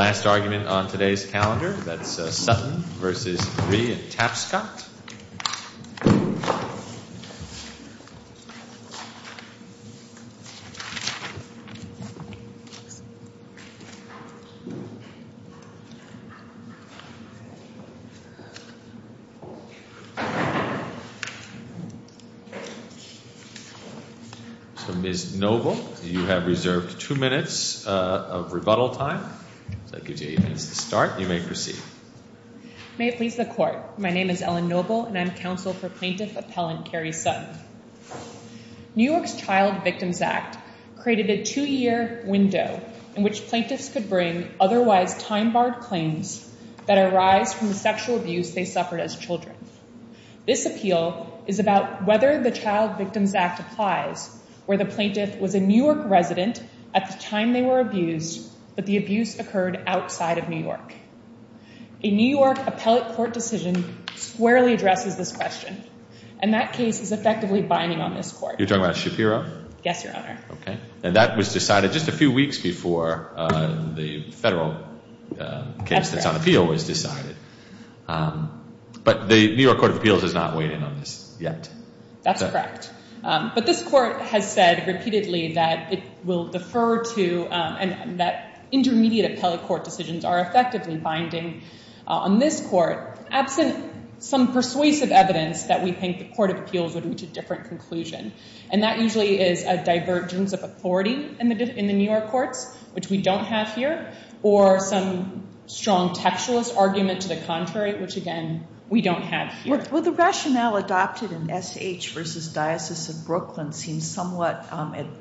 Last argument on today's calendar, that's Sutton v. Marie and Tapscott. Ms. Noble, you have reserved two minutes of rebuttal time. So that gives you eight minutes to start and you may proceed. May it please the Court, my name is Ellen Noble and I'm counsel for Plaintiff Appellant Carrie Sutton. New York's Child Victims Act created a two-year window in which plaintiffs could bring otherwise time-barred claims that arise from the sexual abuse they suffered as children. This appeal is about whether the Child Victims Act applies where the plaintiff was a New outside of New York. A New York appellate court decision squarely addresses this question and that case is effectively binding on this Court. You're talking about Shapiro? Yes, Your Honor. Okay. And that was decided just a few weeks before the federal case that's on appeal was decided. But the New York Court of Appeals has not weighed in on this yet. That's correct. But this Court has said repeatedly that it will defer to and that intermediate appellate court decisions are effectively binding on this Court, absent some persuasive evidence that we think the Court of Appeals would reach a different conclusion. And that usually is a divergence of authority in the New York courts, which we don't have here, or some strong textualist argument to the contrary, which again, we don't have here. Well, the rationale adopted in S.H. v. Diocese of Brooklyn seems somewhat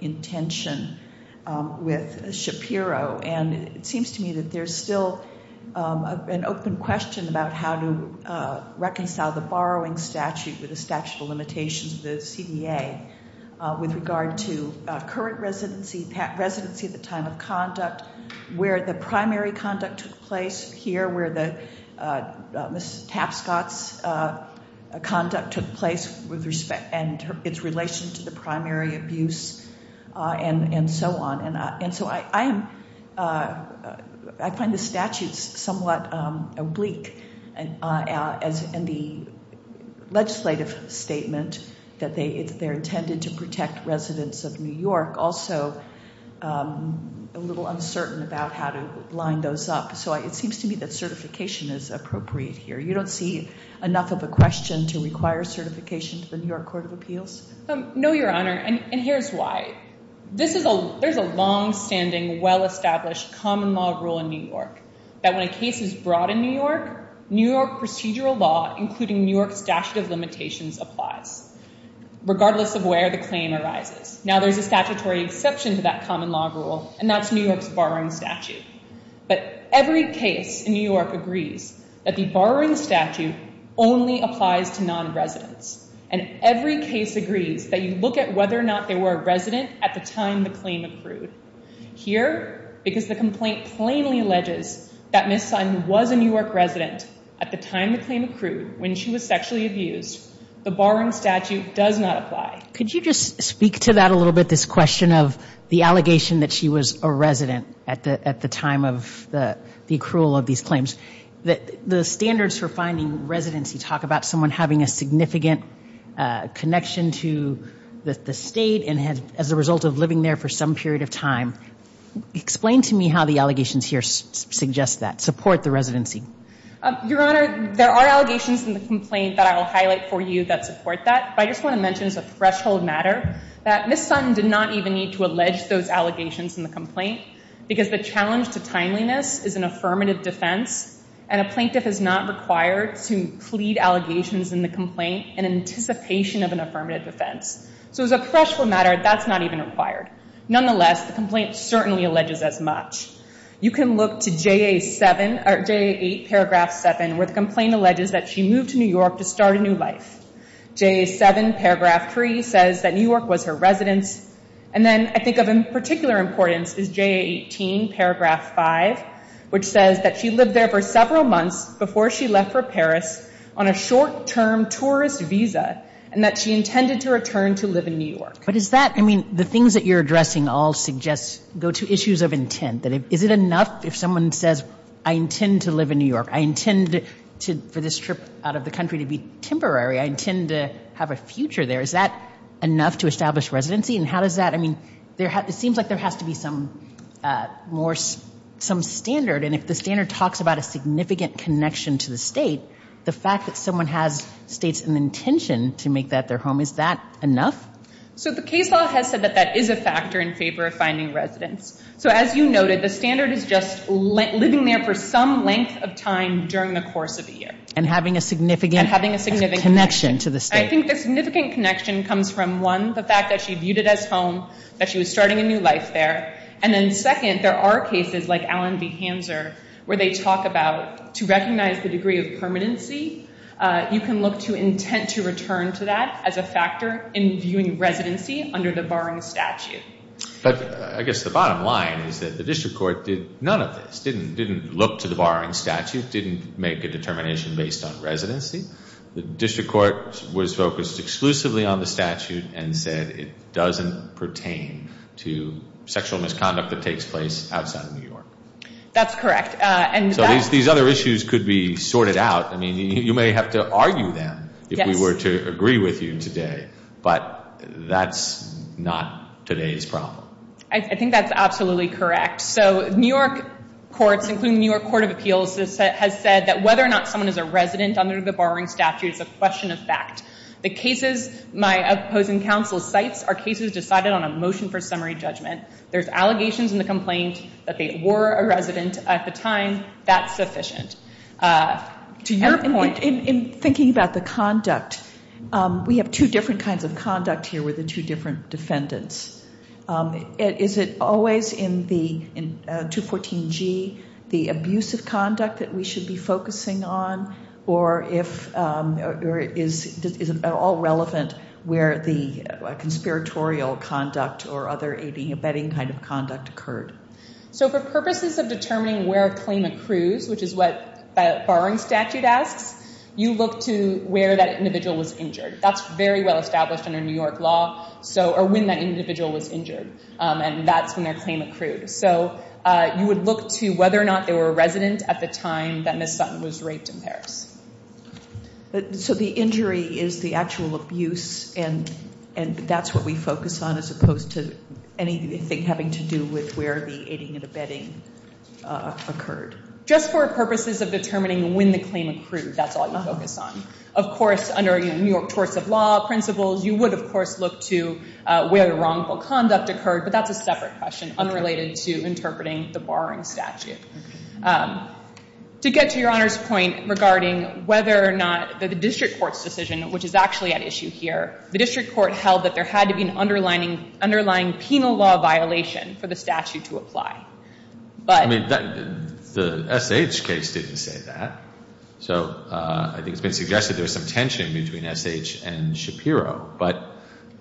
in tension with Shapiro. And it seems to me that there's still an open question about how to reconcile the borrowing statute with the statute of limitations of the CDA with regard to current residency, residency at the time of conduct, where the primary conduct took place here, where Ms. Shapiro's conduct took place with respect, and its relation to the primary abuse, and so on. And so I find the statutes somewhat oblique. And the legislative statement that they're intended to protect residents of New York, also a little uncertain about how to line those up. So it seems to me that certification is appropriate here. You don't see enough of a question to require certification to the New York Court of Appeals? No, Your Honor. And here's why. There's a longstanding, well-established common law rule in New York that when a case is brought in New York, New York procedural law, including New York's statute of limitations, applies, regardless of where the claim arises. Now, there's a statutory exception to that common law rule, and that's New York's borrowing statute. But every case in New York agrees that the borrowing statute only applies to non-residents. And every case agrees that you look at whether or not they were a resident at the time the claim accrued. Here, because the complaint plainly alleges that Ms. Simon was a New York resident at the time the claim accrued, when she was sexually abused, the borrowing statute does not apply. Could you just speak to that a little bit, this question of the allegation that she was a New York resident at the time of the accrual of these claims? The standards for finding residency talk about someone having a significant connection to the state and as a result of living there for some period of time. Explain to me how the allegations here suggest that, support the residency. Your Honor, there are allegations in the complaint that I will highlight for you that support that. But I just want to mention as a threshold matter that Ms. Sutton did not even need to address. So timeliness is an affirmative defense and a plaintiff is not required to plead allegations in the complaint in anticipation of an affirmative defense. So as a threshold matter, that's not even required. Nonetheless, the complaint certainly alleges as much. You can look to JA 7, or JA 8, paragraph 7, where the complaint alleges that she moved to New York to start a new life. JA 7, paragraph 3, says that New York was her residence. And then I think of in particular importance is JA 18, paragraph 5, which says that she lived there for several months before she left for Paris on a short-term tourist visa and that she intended to return to live in New York. But is that, I mean, the things that you're addressing all suggest, go to issues of intent. Is it enough if someone says, I intend to live in New York, I intend for this trip out of the country to be temporary, I intend to have a future there, is that enough to establish residency? And how does that, I mean, it seems like there has to be some more, some standard. And if the standard talks about a significant connection to the state, the fact that someone has states an intention to make that their home, is that enough? So the case law has said that that is a factor in favor of finding residence. So as you noted, the standard is just living there for some length of time during the course of a year. And having a significant connection to the state. I think the significant connection comes from, one, the fact that she viewed it as home, that she was starting a new life there. And then second, there are cases like Allen v. Hanser where they talk about, to recognize the degree of permanency, you can look to intent to return to that as a factor in viewing residency under the barring statute. But I guess the bottom line is that the district court did none of this, didn't look to the barring statute, didn't make a determination based on residency. The district court was focused exclusively on the statute and said it doesn't pertain to sexual misconduct that takes place outside of New York. That's correct. So these other issues could be sorted out. I mean, you may have to argue them if we were to agree with you today. But that's not today's problem. I think that's absolutely correct. So New York courts, including the New York Court of Appeals, has said that whether or not there's a barring statute is a question of fact. The cases my opposing counsel cites are cases decided on a motion for summary judgment. There's allegations in the complaint that they were a resident at the time, that's sufficient. To your point, in thinking about the conduct, we have two different kinds of conduct here with the two different defendants. Is it always in the 214G the abusive conduct that we should be focusing on or is it at all relevant where the conspiratorial conduct or other abetting kind of conduct occurred? So for purposes of determining where a claim accrues, which is what a barring statute asks, you look to where that individual was injured. That's very well established under New York law, or when that individual was injured. And that's when their claim accrued. So you would look to whether or not they were a resident at the time that Ms. Sutton was raped in Paris. So the injury is the actual abuse and that's what we focus on as opposed to anything having to do with where the aiding and abetting occurred? Just for purposes of determining when the claim accrued, that's all you focus on. Of course, under New York courts of law principles, you would, of course, look to where the wrongful conduct occurred. But that's a separate question unrelated to interpreting the barring statute. To get to Your Honor's point regarding whether or not the district court's decision, which is actually at issue here, the district court held that there had to be an underlying penal law violation for the statute to apply. The SH case didn't say that. So I think it's been suggested there was some tension between SH and Shapiro. But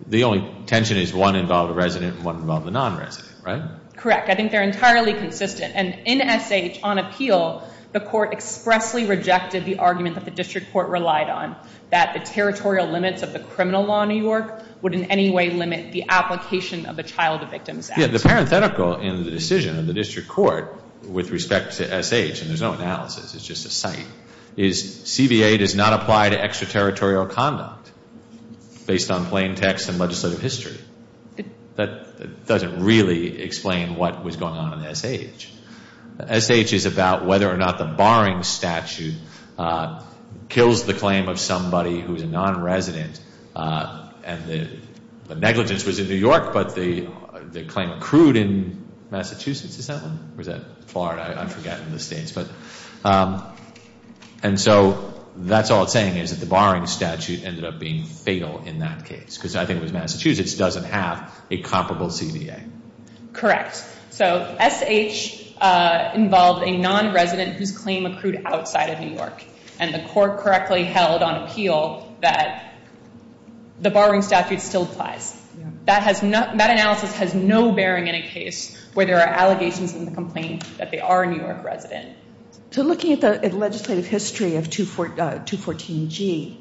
the only tension is one involved a resident and one involved a non-resident, right? Correct. I think they're entirely consistent. And in SH, on appeal, the court expressly rejected the argument that the district court relied on, that the territorial limits of the criminal law in New York would in any way limit the application of the Child Victims Act. Yeah, the parenthetical in the decision of the district court with respect to SH, and there's no analysis, it's just a cite, is CVA does not apply to extraterritorial conduct based on plain text and legislative history. That doesn't really explain what was going on in SH. SH is about whether or not the barring statute kills the claim of somebody who's a non-resident and the negligence was in New York, but the claim accrued in Massachusetts, is that one? Or is that Florida? I forget in the States. And so that's all it's saying is that the barring statute ended up being fatal in that case. Because I think it was Massachusetts doesn't have a comparable CVA. Correct. So SH involved a non-resident whose claim accrued outside of New York. And the court correctly held on appeal that the barring statute still applies. That analysis has no bearing in a case where there are allegations in the complaint that they are a New York resident. So looking at the legislative history of 214G,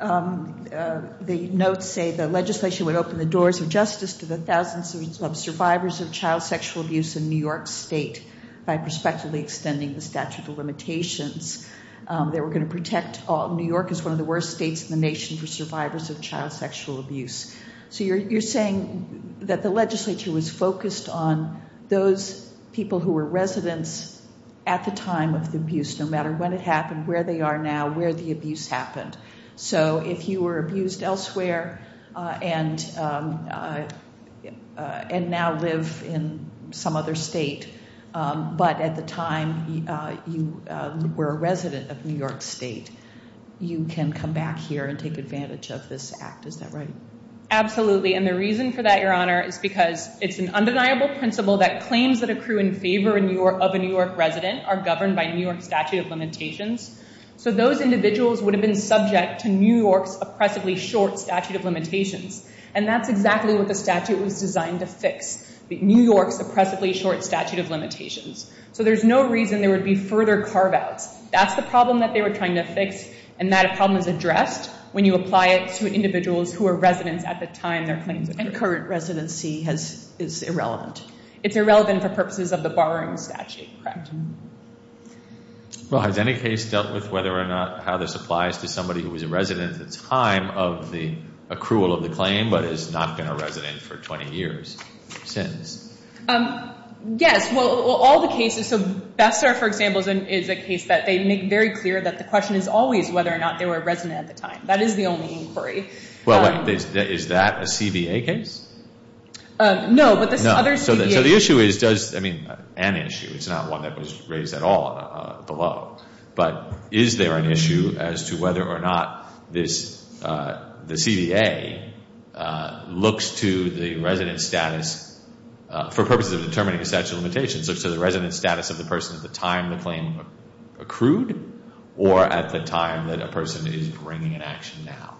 the notes say the legislation would open the doors of justice to the thousands of survivors of child sexual abuse in New York State by prospectively extending the statute of limitations. They were going to protect New York as one of the worst states in the nation for survivors of child sexual abuse. So you're saying that the legislature was focused on those people who were residents at the time of the abuse, no matter when it happened, where they are now, where the abuse happened. So if you were abused elsewhere and now live in some other state, but at the time you were a resident of New York State, you can come back here and take advantage of this act. Is that right? Absolutely. And the reason for that, Your Honor, is because it's an undeniable principle that claims that accrue in favor of a New York resident are governed by New York statute of limitations. So those individuals would have been subject to New York's oppressively short statute of limitations. And that's exactly what the statute was designed to fix, New York's oppressively short statute of limitations. So there's no reason there would be further carve-outs. That's the problem that they were trying to fix. And that problem is addressed when you apply it to individuals who are residents at the time their claims occurred. And current residency is irrelevant. It's irrelevant for purposes of the borrowing statute, correct? Well, has any case dealt with whether or not how this applies to somebody who was a resident at the time of the accrual of the claim, but has not been a resident for 20 years since? Yes. Well, all the cases, so Bessar, for example, is a case that they make very clear that the only inquiry is whether or not they were a resident at the time. That is the only inquiry. Well, wait. Is that a CBA case? No. But the other CBA... No. So the issue is, does... I mean, an issue. It's not one that was raised at all below. But is there an issue as to whether or not this, the CBA looks to the resident's status for purposes of determining the statute of limitations, looks to the resident's status of the person at the time the claim accrued, or at the time that a person is bringing an action now?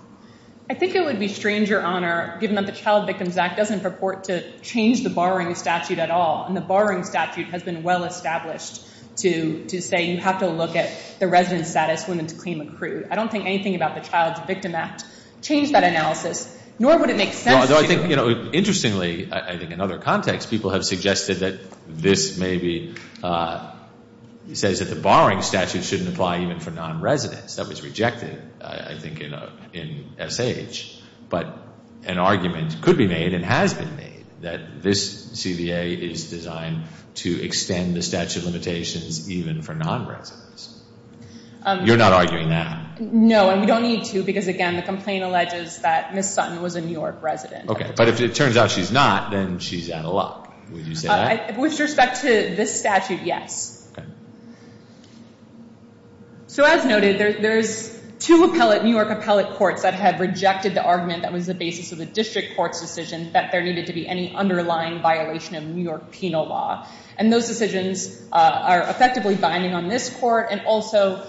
I think it would be strange, Your Honor, given that the Child Victims Act doesn't purport to change the borrowing statute at all, and the borrowing statute has been well-established to say you have to look at the resident's status when the claim accrued. I don't think anything about the Child Victim Act changed that analysis, nor would it make sense to do it. No, although I think, you know, interestingly, I think in other contexts, people have suggested that this maybe says that the borrowing statute shouldn't apply even for non-residents. That was rejected, I think, in SH. But an argument could be made and has been made that this CBA is designed to extend the statute of limitations even for non-residents. You're not arguing that. No, and we don't need to because, again, the complaint alleges that Ms. Sutton was a New York appellate. Okay, but if it turns out she's not, then she's out of luck, would you say that? With respect to this statute, yes. So as noted, there's two New York appellate courts that have rejected the argument that was the basis of the district court's decision that there needed to be any underlying violation of New York penal law, and those decisions are effectively binding on this court and also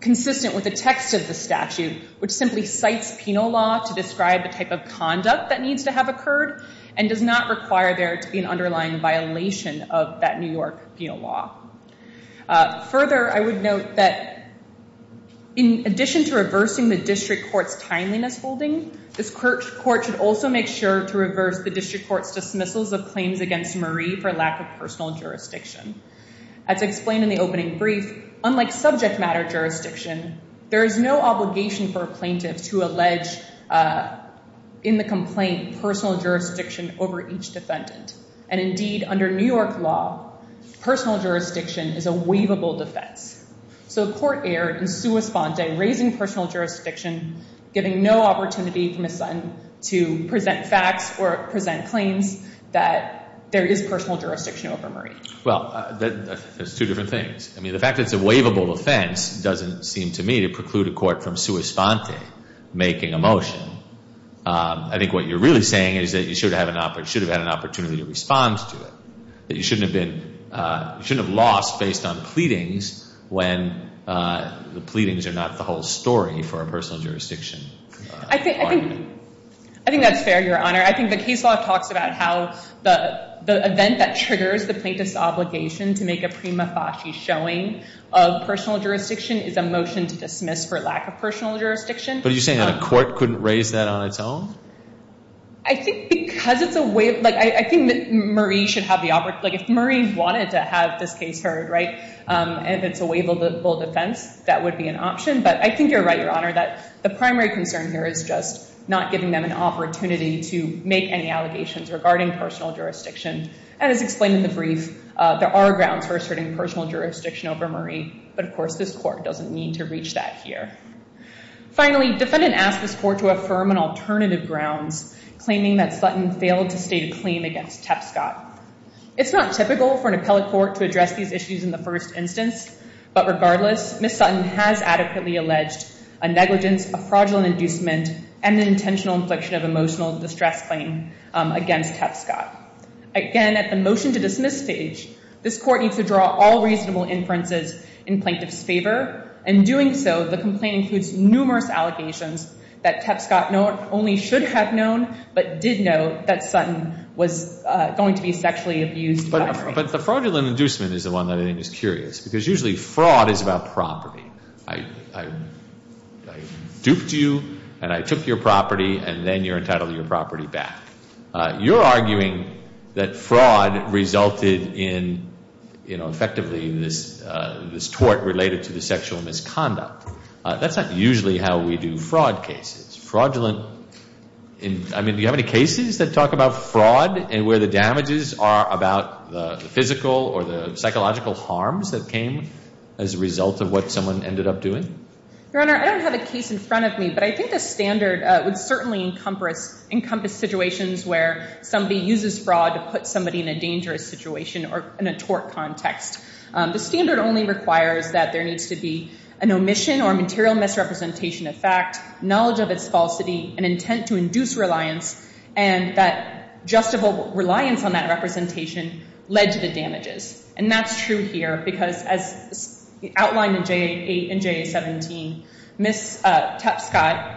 consistent with the text of the statute, which simply cites penal law to describe the conduct that needs to have occurred and does not require there to be an underlying violation of that New York penal law. Further, I would note that in addition to reversing the district court's timeliness holding, this court should also make sure to reverse the district court's dismissals of claims against Marie for lack of personal jurisdiction. As explained in the opening brief, unlike subject matter jurisdiction, there is no obligation for plaintiffs to allege in the complaint personal jurisdiction over each defendant. And indeed, under New York law, personal jurisdiction is a waivable defense. So the court erred in sua sponte, raising personal jurisdiction, giving no opportunity for Ms. Sutton to present facts or present claims that there is personal jurisdiction over Marie. Well, that's two different things. I mean, the fact that it's a waivable defense doesn't seem to me to preclude a court from sua sponte making a motion. I think what you're really saying is that you should have had an opportunity to respond to it, that you shouldn't have lost based on pleadings when the pleadings are not the whole story for a personal jurisdiction argument. I think that's fair, Your Honor. I think the case law talks about how the event that triggers the plaintiff's obligation to make a prima facie showing of personal jurisdiction is a motion to dismiss for lack of personal jurisdiction. But are you saying a court couldn't raise that on its own? I think because it's a waivable, like, I think that Marie should have the, like, if Marie wanted to have this case heard, right, if it's a waivable defense, that would be an But I think you're right, Your Honor, that the primary concern here is just not giving them an opportunity to make any allegations regarding personal jurisdiction. And as explained in the brief, there are grounds for asserting personal jurisdiction over Marie. But of course, this court doesn't need to reach that here. Finally, defendant asked this court to affirm an alternative grounds, claiming that Sutton failed to state a claim against Tepscott. It's not typical for an appellate court to address these issues in the first instance. But regardless, Ms. Sutton has adequately alleged a negligence, a fraudulent inducement, and an intentional infliction of emotional distress claim against Tepscott. Again, at the motion to dismiss stage, this court needs to draw all reasonable inferences in plaintiff's favor. In doing so, the complaint includes numerous allegations that Tepscott not only should have known, but did know that Sutton was going to be sexually abused by Marie. But the fraudulent inducement is the one that I think is curious, because usually fraud is about property. I duped you, and I took your property, and then you're entitled to your property back. You're arguing that fraud resulted in, effectively, this tort related to the sexual misconduct. That's not usually how we do fraud cases. Fraudulent, I mean, do you have any cases that talk about fraud and where the damages are about the physical or the psychological harms that came as a result of what someone ended up doing? Your Honor, I don't have a case in front of me, but I think the standard would certainly encompass situations where somebody uses fraud to put somebody in a dangerous situation or in a tort context. The standard only requires that there needs to be an omission or material misrepresentation of fact, knowledge of its falsity, an intent to induce reliance, and that justifiable reliance on that representation led to the damages. And that's true here, because as outlined in JA8 and JA17, Ms. Tepscott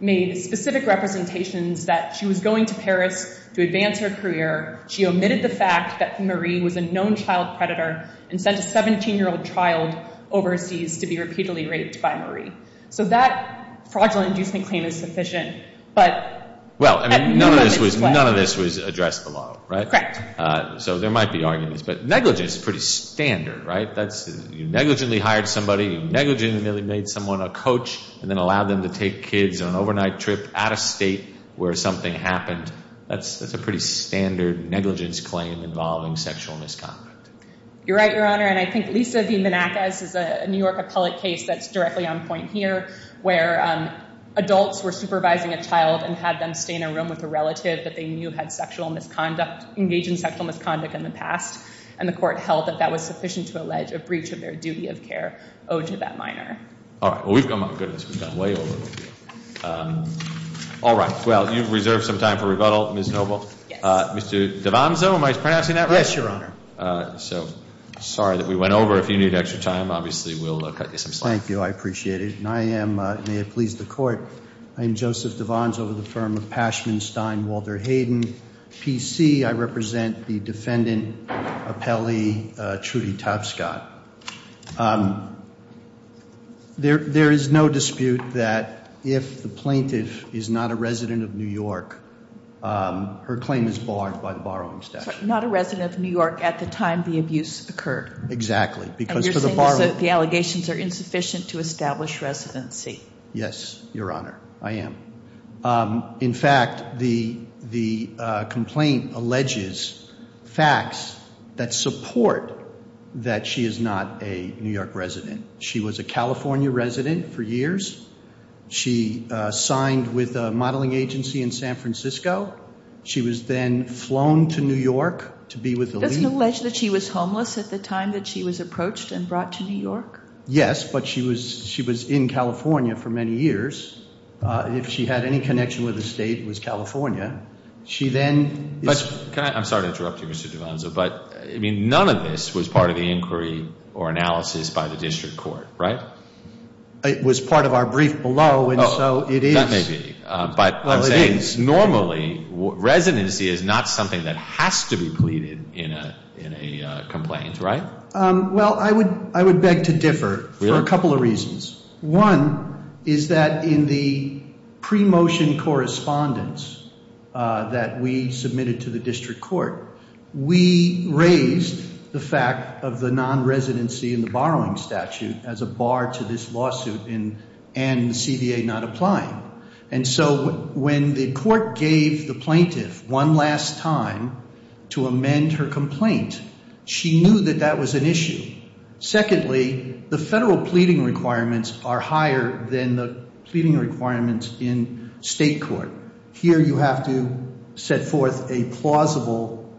made specific representations that she was going to Paris to advance her career. She omitted the fact that Marie was a known child predator and sent a 17-year-old child overseas to be repeatedly raped by Marie. So that fraudulent inducement claim is sufficient, but none of this was addressed below, right? Correct. So there might be arguments, but negligence is pretty standard, right? You negligently hired somebody, you negligently made someone a coach, and then allowed them to take kids on an overnight trip out of state where something happened. That's a pretty standard negligence claim involving sexual misconduct. You're right, Your Honor, and I think Lisa v. Manacas is a New York appellate case that's directly on point here where adults were supervising a child and had them stay in a room with a relative that they knew had engaged in sexual misconduct in the past, and the court held that that was sufficient to allege a breach of their duty of care owed to that minor. All right. Well, we've gone, my goodness, we've gone way over the top. All right. Well, you've reserved some time for rebuttal, Ms. Noble. Yes. Mr. Devanzo, am I pronouncing that right? Yes, Your Honor. So, sorry that we went over. If you need extra time, obviously, we'll cut you some slack. Thank you. I appreciate it. And I am, may it please the Court, I am Joseph Devanzo of the firm of Pashman, Stein, Walter Hayden. PC, I represent the defendant appellee, Trudy Tapscott. There is no dispute that if the plaintiff is not a resident of New York, her claim is barred by the Borrowing Statute. Not a resident of New York at the time the abuse occurred. Exactly. And you're saying that the allegations are insufficient to establish residency. Yes, Your Honor. I am. In fact, the complaint alleges facts that support that she is not a New York resident. She was a California resident for years. She signed with a modeling agency in San Francisco. She was then flown to New York to be with the League. Does it allege that she was homeless at the time that she was approached and brought to New York? Yes. But she was in California for many years. If she had any connection with the state, it was California. She then... I'm sorry to interrupt you, Mr. Devanzo, but none of this was part of the inquiry or analysis by the District Court, right? It was part of our brief below, and so it is. That may be. But I'm saying normally, residency is not something that has to be pleaded in a complaint, right? Well, I would beg to differ for a couple of reasons. One is that in the pre-motion correspondence that we submitted to the District Court, we raised the fact of the non-residency in the borrowing statute as a bar to this lawsuit and the CVA not applying. And so when the court gave the plaintiff one last time to amend her complaint, she knew that that was an issue. Secondly, the federal pleading requirements are higher than the pleading requirements in state court. Here you have to set forth a plausible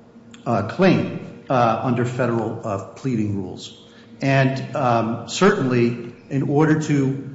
claim under federal pleading rules. And certainly, in order to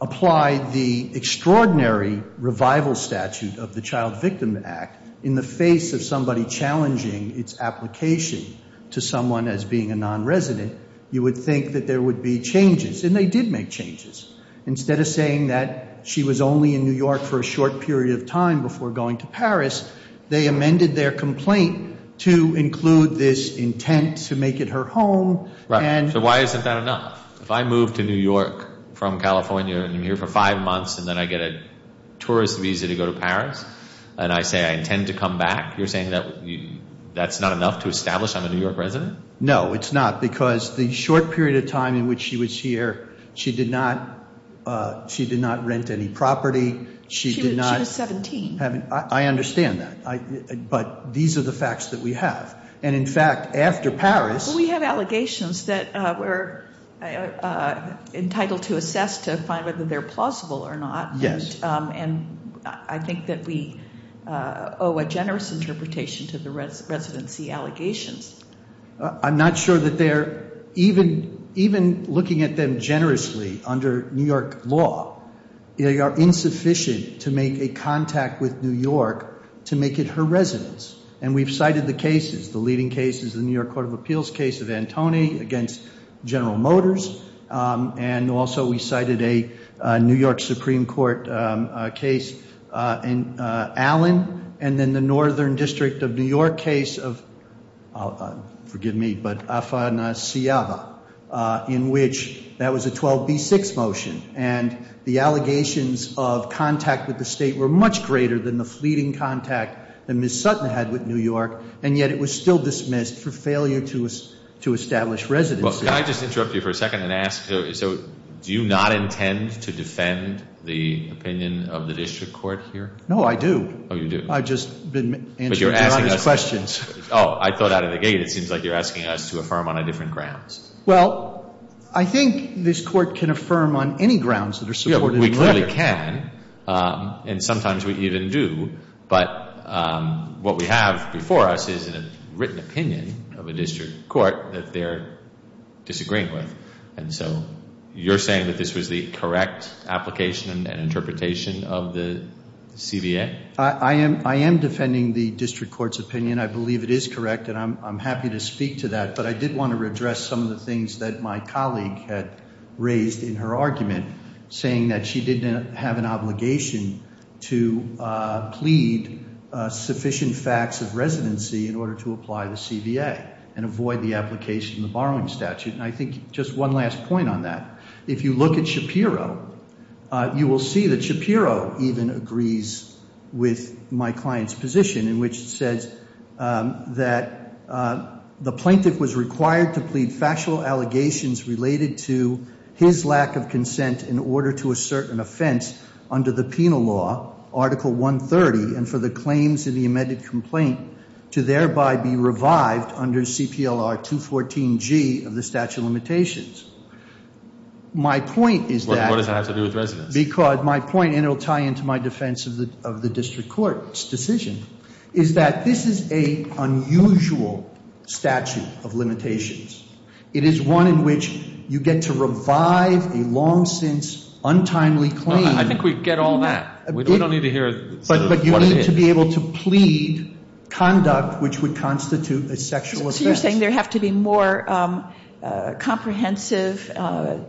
apply the extraordinary revival statute of the Child Victim Act in the face of somebody challenging its application to someone as being a non-resident, you would think that there would be changes, and they did make changes. Instead of saying that she was only in New York for a short period of time before going to Paris, they amended their complaint to include this intent to make it her home and Right. So why isn't that enough? If I move to New York from California and I'm here for five months and then I get a You're saying that that's not enough to establish I'm a New York resident? No, it's not, because the short period of time in which she was here, she did not rent any property. She did not. She was 17. I understand that. But these are the facts that we have. And in fact, after Paris. We have allegations that we're entitled to assess to find whether they're plausible or not. Yes. And I think that we owe a generous interpretation to the residency allegations. I'm not sure that they're even looking at them generously under New York law. They are insufficient to make a contact with New York to make it her residence. And we've cited the cases, the leading cases, the New York Court of Appeals case of Antoni against General Motors. And also we cited a New York Supreme Court case in Allen and then the Northern District of New York case of, forgive me, but Afanasyava in which that was a 12B6 motion. And the allegations of contact with the state were much greater than the fleeting contact that Ms. Sutton had with New York. And yet it was still dismissed for failure to establish residency. Well, can I just interrupt you for a second and ask, so do you not intend to defend the opinion of the district court here? No, I do. Oh, you do? I've just been answering Your Honor's questions. Oh, I thought out of the gate it seems like you're asking us to affirm on a different grounds. Well, I think this court can affirm on any grounds that are supported in the letter. We clearly can. And sometimes we even do. But what we have before us is a written opinion of a district court that they're disagreeing with. And so you're saying that this was the correct application and interpretation of the CBA? I am defending the district court's opinion. I believe it is correct and I'm happy to speak to that. But I did want to address some of the things that my colleague had raised in her argument saying that she didn't have an obligation to plead sufficient facts of residency in order to apply the CBA and avoid the application of the borrowing statute. And I think just one last point on that. If you look at Shapiro, you will see that Shapiro even agrees with my client's position in which it says that the plaintiff was required to plead factual allegations related to his lack of consent in order to assert an offense under the penal law, Article 130, and for the claims in the amended complaint to thereby be revived under CPLR 214G of the statute of limitations. My point is that... What does that have to do with residence? Because my point, and it will tie into my defense of the district court's decision, is that this is a unusual statute of limitations. It is one in which you get to revive a long-since, untimely claim... I think we get all that. We don't need to hear what it is. But you need to be able to plead conduct which would constitute a sexual offense. So you're saying there have to be more comprehensive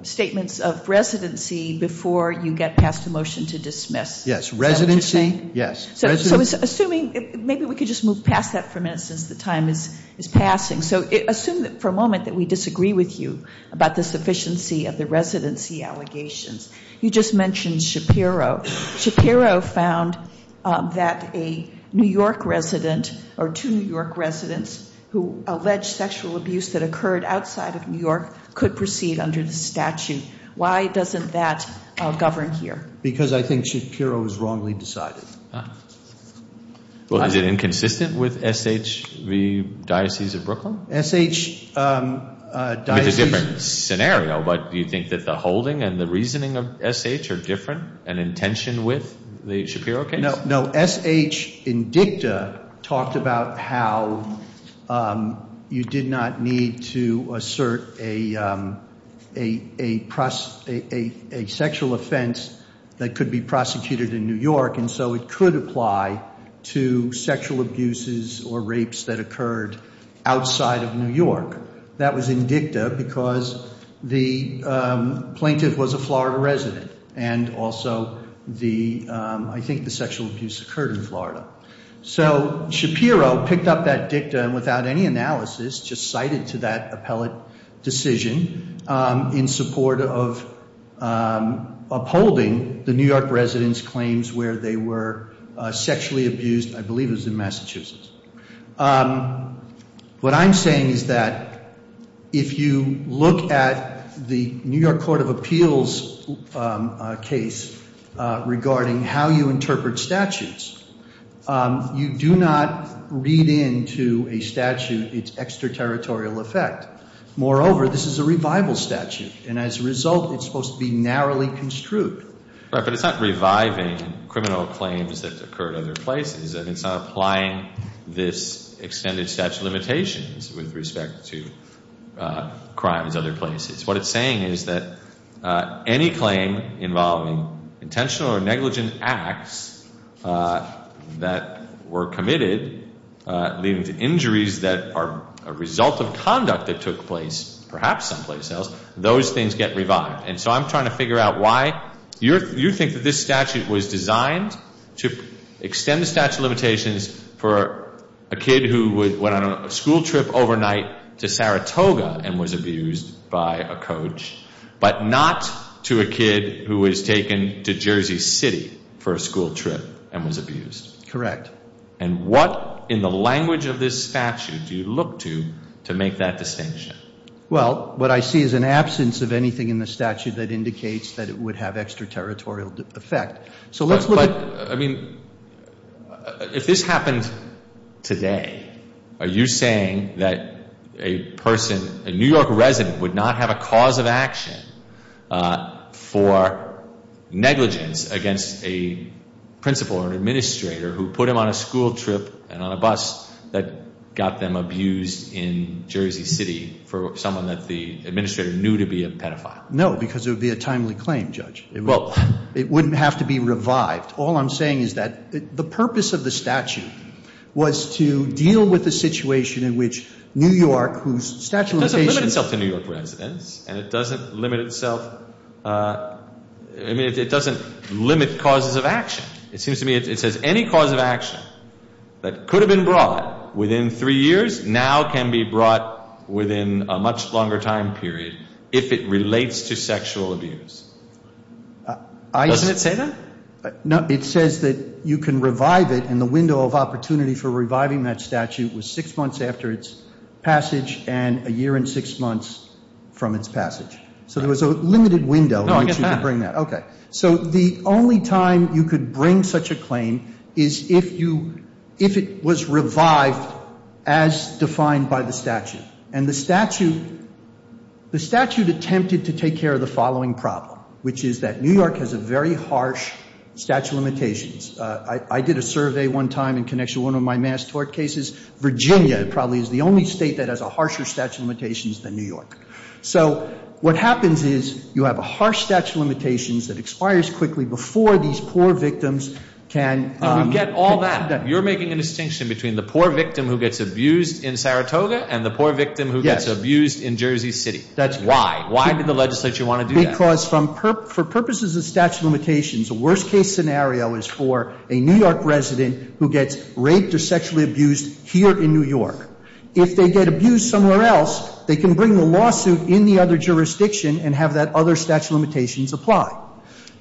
statements of residency before you get past a motion to dismiss. Yes. Residency. Is that what you're saying? Yes. So assuming... Maybe we could just move past that for a minute since the time is passing. So assume for a moment that we disagree with you about the sufficiency of the residency allegations. You just mentioned Shapiro. Shapiro found that a New York resident or two New York residents who alleged sexual abuse that occurred outside of New York could proceed under the statute. Why doesn't that govern here? Because I think Shapiro is wrongly decided. Well, is it inconsistent with SH, the Diocese of Brooklyn? SH... It's a different scenario, but do you think that the holding and the reasoning of SH are different? An intention with the Shapiro case? No. SH in dicta talked about how you did not need to assert a sexual offense that could be prosecuted in New York and so it could apply to sexual abuses or rapes that occurred outside of New York. That was in dicta because the plaintiff was a Florida resident and also the, I think the sexual abuse occurred in Florida. So Shapiro picked up that dicta and without any analysis just cited to that appellate decision in support of upholding the New York residents' claims where they were sexually abused, I believe it was in Massachusetts. What I'm saying is that if you look at the New York Court of Appeals case regarding how you interpret statutes, you do not read into a statute its extraterritorial effect. Moreover, this is a revival statute and as a result, it's supposed to be narrowly construed. Right, but it's not reviving criminal claims that occurred other places and it's not applying this extended statute of limitations with respect to crimes other places. What it's saying is that any claim involving intentional or negligent acts that were committed leading to injuries that are a result of conduct that took place perhaps someplace else, those things get revived. And so I'm trying to figure out why you think that this statute was designed to extend the statute of limitations for a kid who went on a school trip overnight to Saratoga and was abused by a coach, but not to a kid who was taken to Jersey City for a school trip and was abused. Correct. And what in the language of this statute do you look to to make that distinction? Well, what I see is an absence of anything in the statute that indicates that it would have extraterritorial effect. So let's look at... But, I mean, if this happened today, are you saying that a person, a New York resident would not have a cause of action for negligence against a principal or an administrator who put him on a school trip and on a bus that got them abused in Jersey City for someone that the administrator knew to be a pedophile? No, because it would be a timely claim, Judge. Well, it wouldn't have to be revived. All I'm saying is that the purpose of the statute was to deal with the situation in which New York, whose statute of limitations... It doesn't limit itself to New York residents, and it doesn't limit itself, I mean, it doesn't limit causes of action. It seems to me it says any cause of action that could have been brought within three years now can be brought within a much longer time period if it relates to sexual abuse. Doesn't it say that? No, it says that you can revive it, and the window of opportunity for reviving that statute was six months after its passage and a year and six months from its passage. So there was a limited window in which you could bring that. OK. So the only time you could bring such a claim is if you, if it was revived as defined by the statute. And the statute, the statute attempted to take care of the following problem, which is that New York has a very harsh statute of limitations. I did a survey one time in connection to one of my mass tort cases. Virginia probably is the only state that has a harsher statute of limitations than New York. So what happens is you have a harsh statute of limitations that expires quickly before these poor victims can... And we get all that. You're making a distinction between the poor victim who gets abused in Saratoga and the poor victim who gets abused in Jersey City. That's... Why? Why did the legislature want to do that? Because for purposes of statute of limitations, the worst case scenario is for a New York resident who gets raped or sexually abused here in New York. If they get abused somewhere else, they can bring the lawsuit in the other jurisdiction and have that other statute of limitations apply.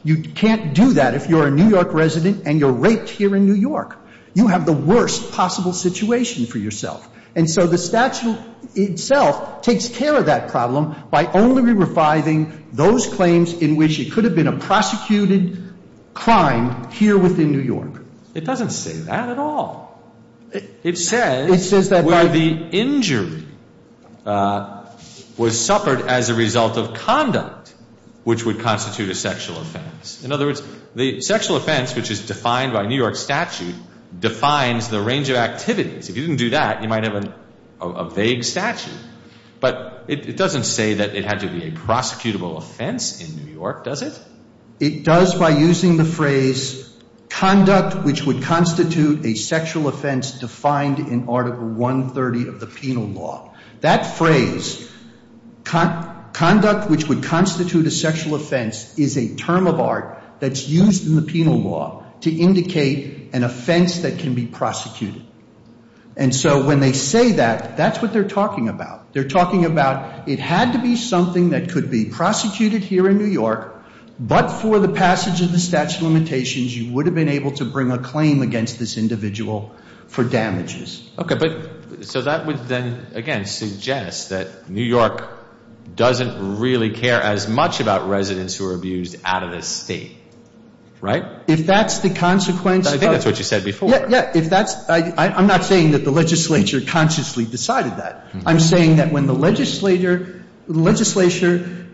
You can't do that if you're a New York resident and you're raped here in New York. You have the worst possible situation for yourself. And so the statute itself takes care of that problem by only reviving those claims in which it could have been a prosecuted crime here within New York. It doesn't say that at all. It says... It says that by... Where the injury was suffered as a result of conduct which would constitute a sexual offense. In other words, the sexual offense, which is defined by New York statute, defines the range of activities. If you didn't do that, you might have a vague statute. But it doesn't say that it had to be a prosecutable offense in New York, does it? It does by using the phrase conduct which would constitute a sexual offense defined in article 130 of the penal law. That phrase, conduct which would constitute a sexual offense, is a term of art that's used in the penal law to indicate an offense that can be prosecuted. And so when they say that, that's what they're talking about. They're talking about it had to be something that could be prosecuted here in New York, but for the passage of the statute of limitations, you would have been able to bring a claim against this individual for damages. Okay, but so that would then, again, suggest that New York doesn't really care as much about residents who are abused out of the state, right? If that's the consequence... I think that's what you said before. Yeah, yeah. If that's... I'm not saying that the legislature consciously decided that. I'm saying that when the legislature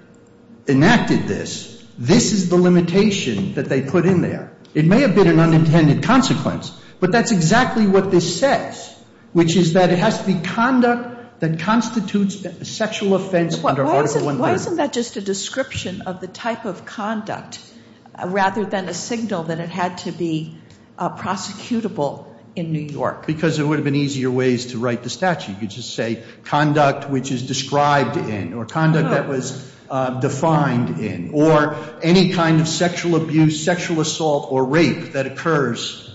enacted this, this is the limitation that they put in there. It may have been an unintended consequence, but that's exactly what this says. Which is that it has to be conduct that constitutes a sexual offense under Article 130. Why isn't that just a description of the type of conduct, rather than a signal that it had to be prosecutable in New York? Because there would have been easier ways to write the statute. You could just say, conduct which is described in, or conduct that was defined in, or any kind of sexual abuse, sexual assault, or rape that occurs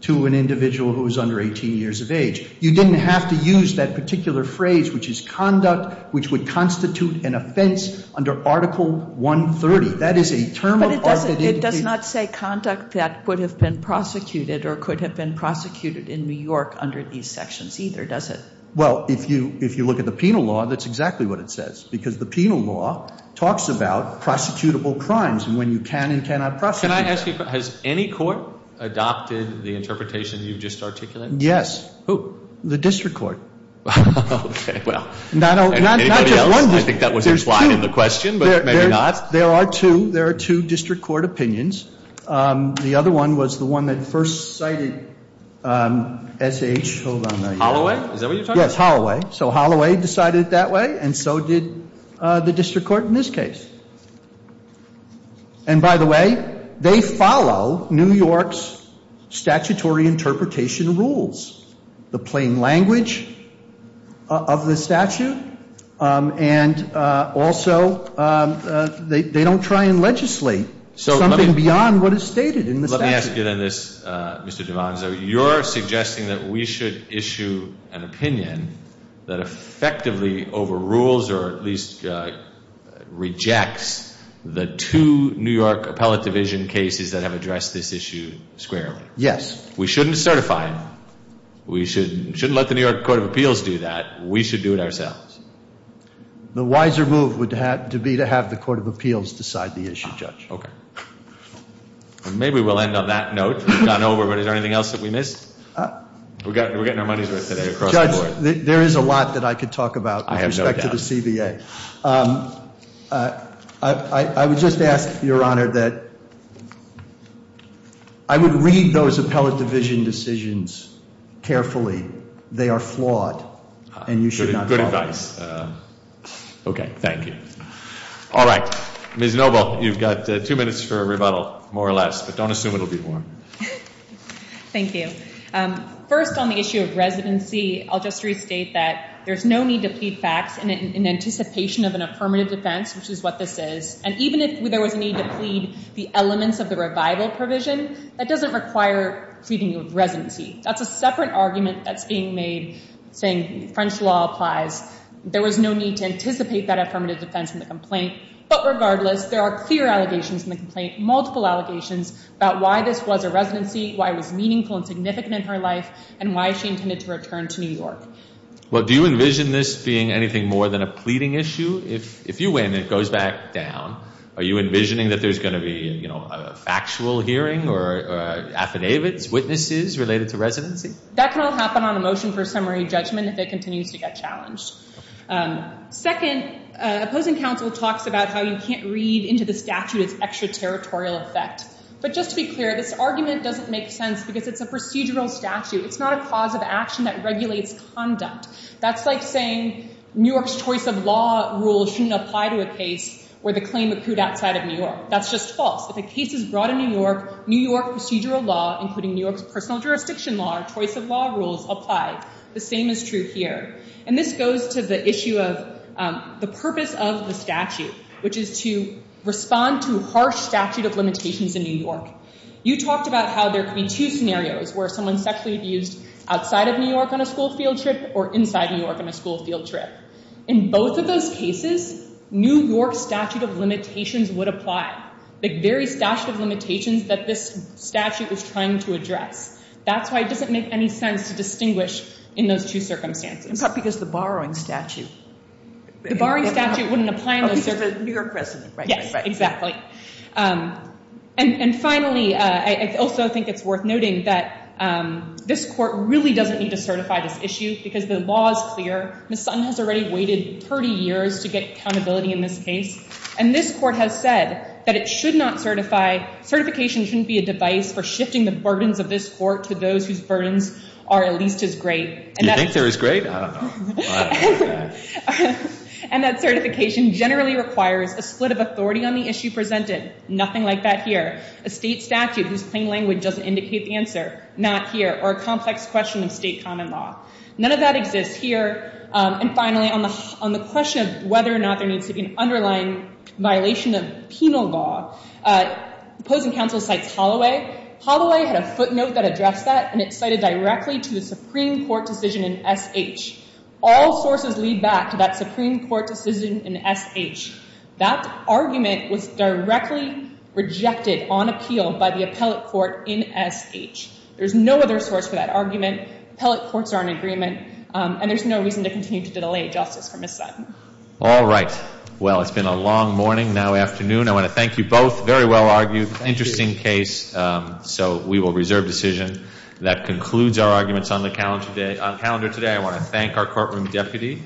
to an individual who is under 18 years of age. You didn't have to use that particular phrase, which is conduct which would constitute an offense under Article 130. That is a term of art that indicates... But it does not say conduct that would have been prosecuted or could have been prosecuted in New York under these sections either, does it? Well, if you look at the penal law, that's exactly what it says. Because the penal law talks about prosecutable crimes, and when you can and cannot prosecute... Can I ask you, has any court adopted the interpretation you've just articulated? Yes. Who? The district court. Okay, well... Not just one district... I think that was implied in the question, but maybe not. There are two. There are two district court opinions. The other one was the one that first cited S.H., hold on a minute. Holloway? Is that what you're talking about? Yes, Holloway. So Holloway decided it that way, and so did the district court in this case. And by the way, they follow New York's statutory interpretation rules, the plain language of the statute, and also they don't try and legislate something beyond what is stated in the statute. Let me ask you then this, Mr. DiVanzo. You're suggesting that we should issue an opinion that effectively overrules or at least rejects the two New York appellate division cases that have addressed this issue squarely. Yes. We shouldn't certify it. We shouldn't let the New York Court of Appeals do that. We should do it ourselves. The wiser move would have to be to have the Court of Appeals decide the issue, Judge. Okay. Maybe we'll end on that note. We've gone over, but is there anything else that we missed? We're getting our money's worth today across the board. Judge, there is a lot that I could talk about with respect to the CBA. I have no doubt. I would just ask, Your Honor, that I would read those appellate division decisions carefully. They are flawed, and you should not follow them. Good advice. Okay. Thank you. All right. Ms. Noble, you've got two minutes for a rebuttal, more or less, but don't assume it will be long. Thank you. First, on the issue of residency, I'll just restate that there's no need to plead facts in anticipation of an affirmative defense, which is what this is. And even if there was a need to plead the elements of the revival provision, that doesn't require pleading of residency. That's a separate argument that's being made, saying French law applies. There was no need to anticipate that affirmative defense in the complaint. But regardless, there are clear allegations in the complaint, multiple allegations, about why this was a residency, why it was meaningful and significant in her life, and why she intended to return to New York. Well, do you envision this being anything more than a pleading issue? If you win, it goes back down. Are you envisioning that there's going to be a factual hearing or affidavits, witnesses related to residency? That can all happen on a motion for summary judgment if it continues to get challenged. Second, opposing counsel talks about how you can't read into the statute its extraterritorial effect. But just to be clear, this argument doesn't make sense because it's a procedural statute. It's not a cause of action that regulates conduct. That's like saying New York's choice of law rule shouldn't apply to a case where the claim accrued outside of New York. That's just false. If a case is brought in New York, New York procedural law, including New York's personal jurisdiction law or choice of law rules, apply. The same is true here. And this goes to the issue of the purpose of the statute, which is to respond to harsh statute of limitations in New York. You talked about how there could be two scenarios where someone sexually abused outside of New York on a school field trip or inside New York on a school field trip. In both of those cases, New York statute of limitations would apply. The very statute of limitations that this statute was trying to address. That's why it doesn't make any sense to distinguish in those two circumstances. And partly because the borrowing statute. The borrowing statute wouldn't apply in those circumstances. New York precedent, right? Yes, exactly. And finally, I also think it's worth noting that this court really doesn't need to certify this issue because the law is clear. Ms. Sutton has already waited 30 years to get accountability in this case. And this court has said that it should not certify. Certification shouldn't be a device for shifting the burdens of this court to those whose burdens are at least as great. Do you think they're as great? I don't know. And that certification generally requires a split of authority on the issue presented. Nothing like that here. A state statute whose plain language doesn't indicate the answer. Not here. Or a complex question of state common law. None of that exists here. And finally, on the question of whether or not there needs to be an underlying violation of penal law, opposing counsel cites Holloway. Holloway had a footnote that addressed that. And it cited directly to the Supreme Court decision in SH. All sources lead back to that Supreme Court decision in SH. That argument was directly rejected on appeal by the appellate court in SH. There's no other source for that argument. Appellate courts are in agreement. And there's no reason to continue to delay justice for Ms. Sutton. All right. Well, it's been a long morning. Now afternoon. I want to thank you both. Very well argued. Interesting case. So we will reserve decision. That concludes our arguments on the calendar today. I want to thank our courtroom deputy.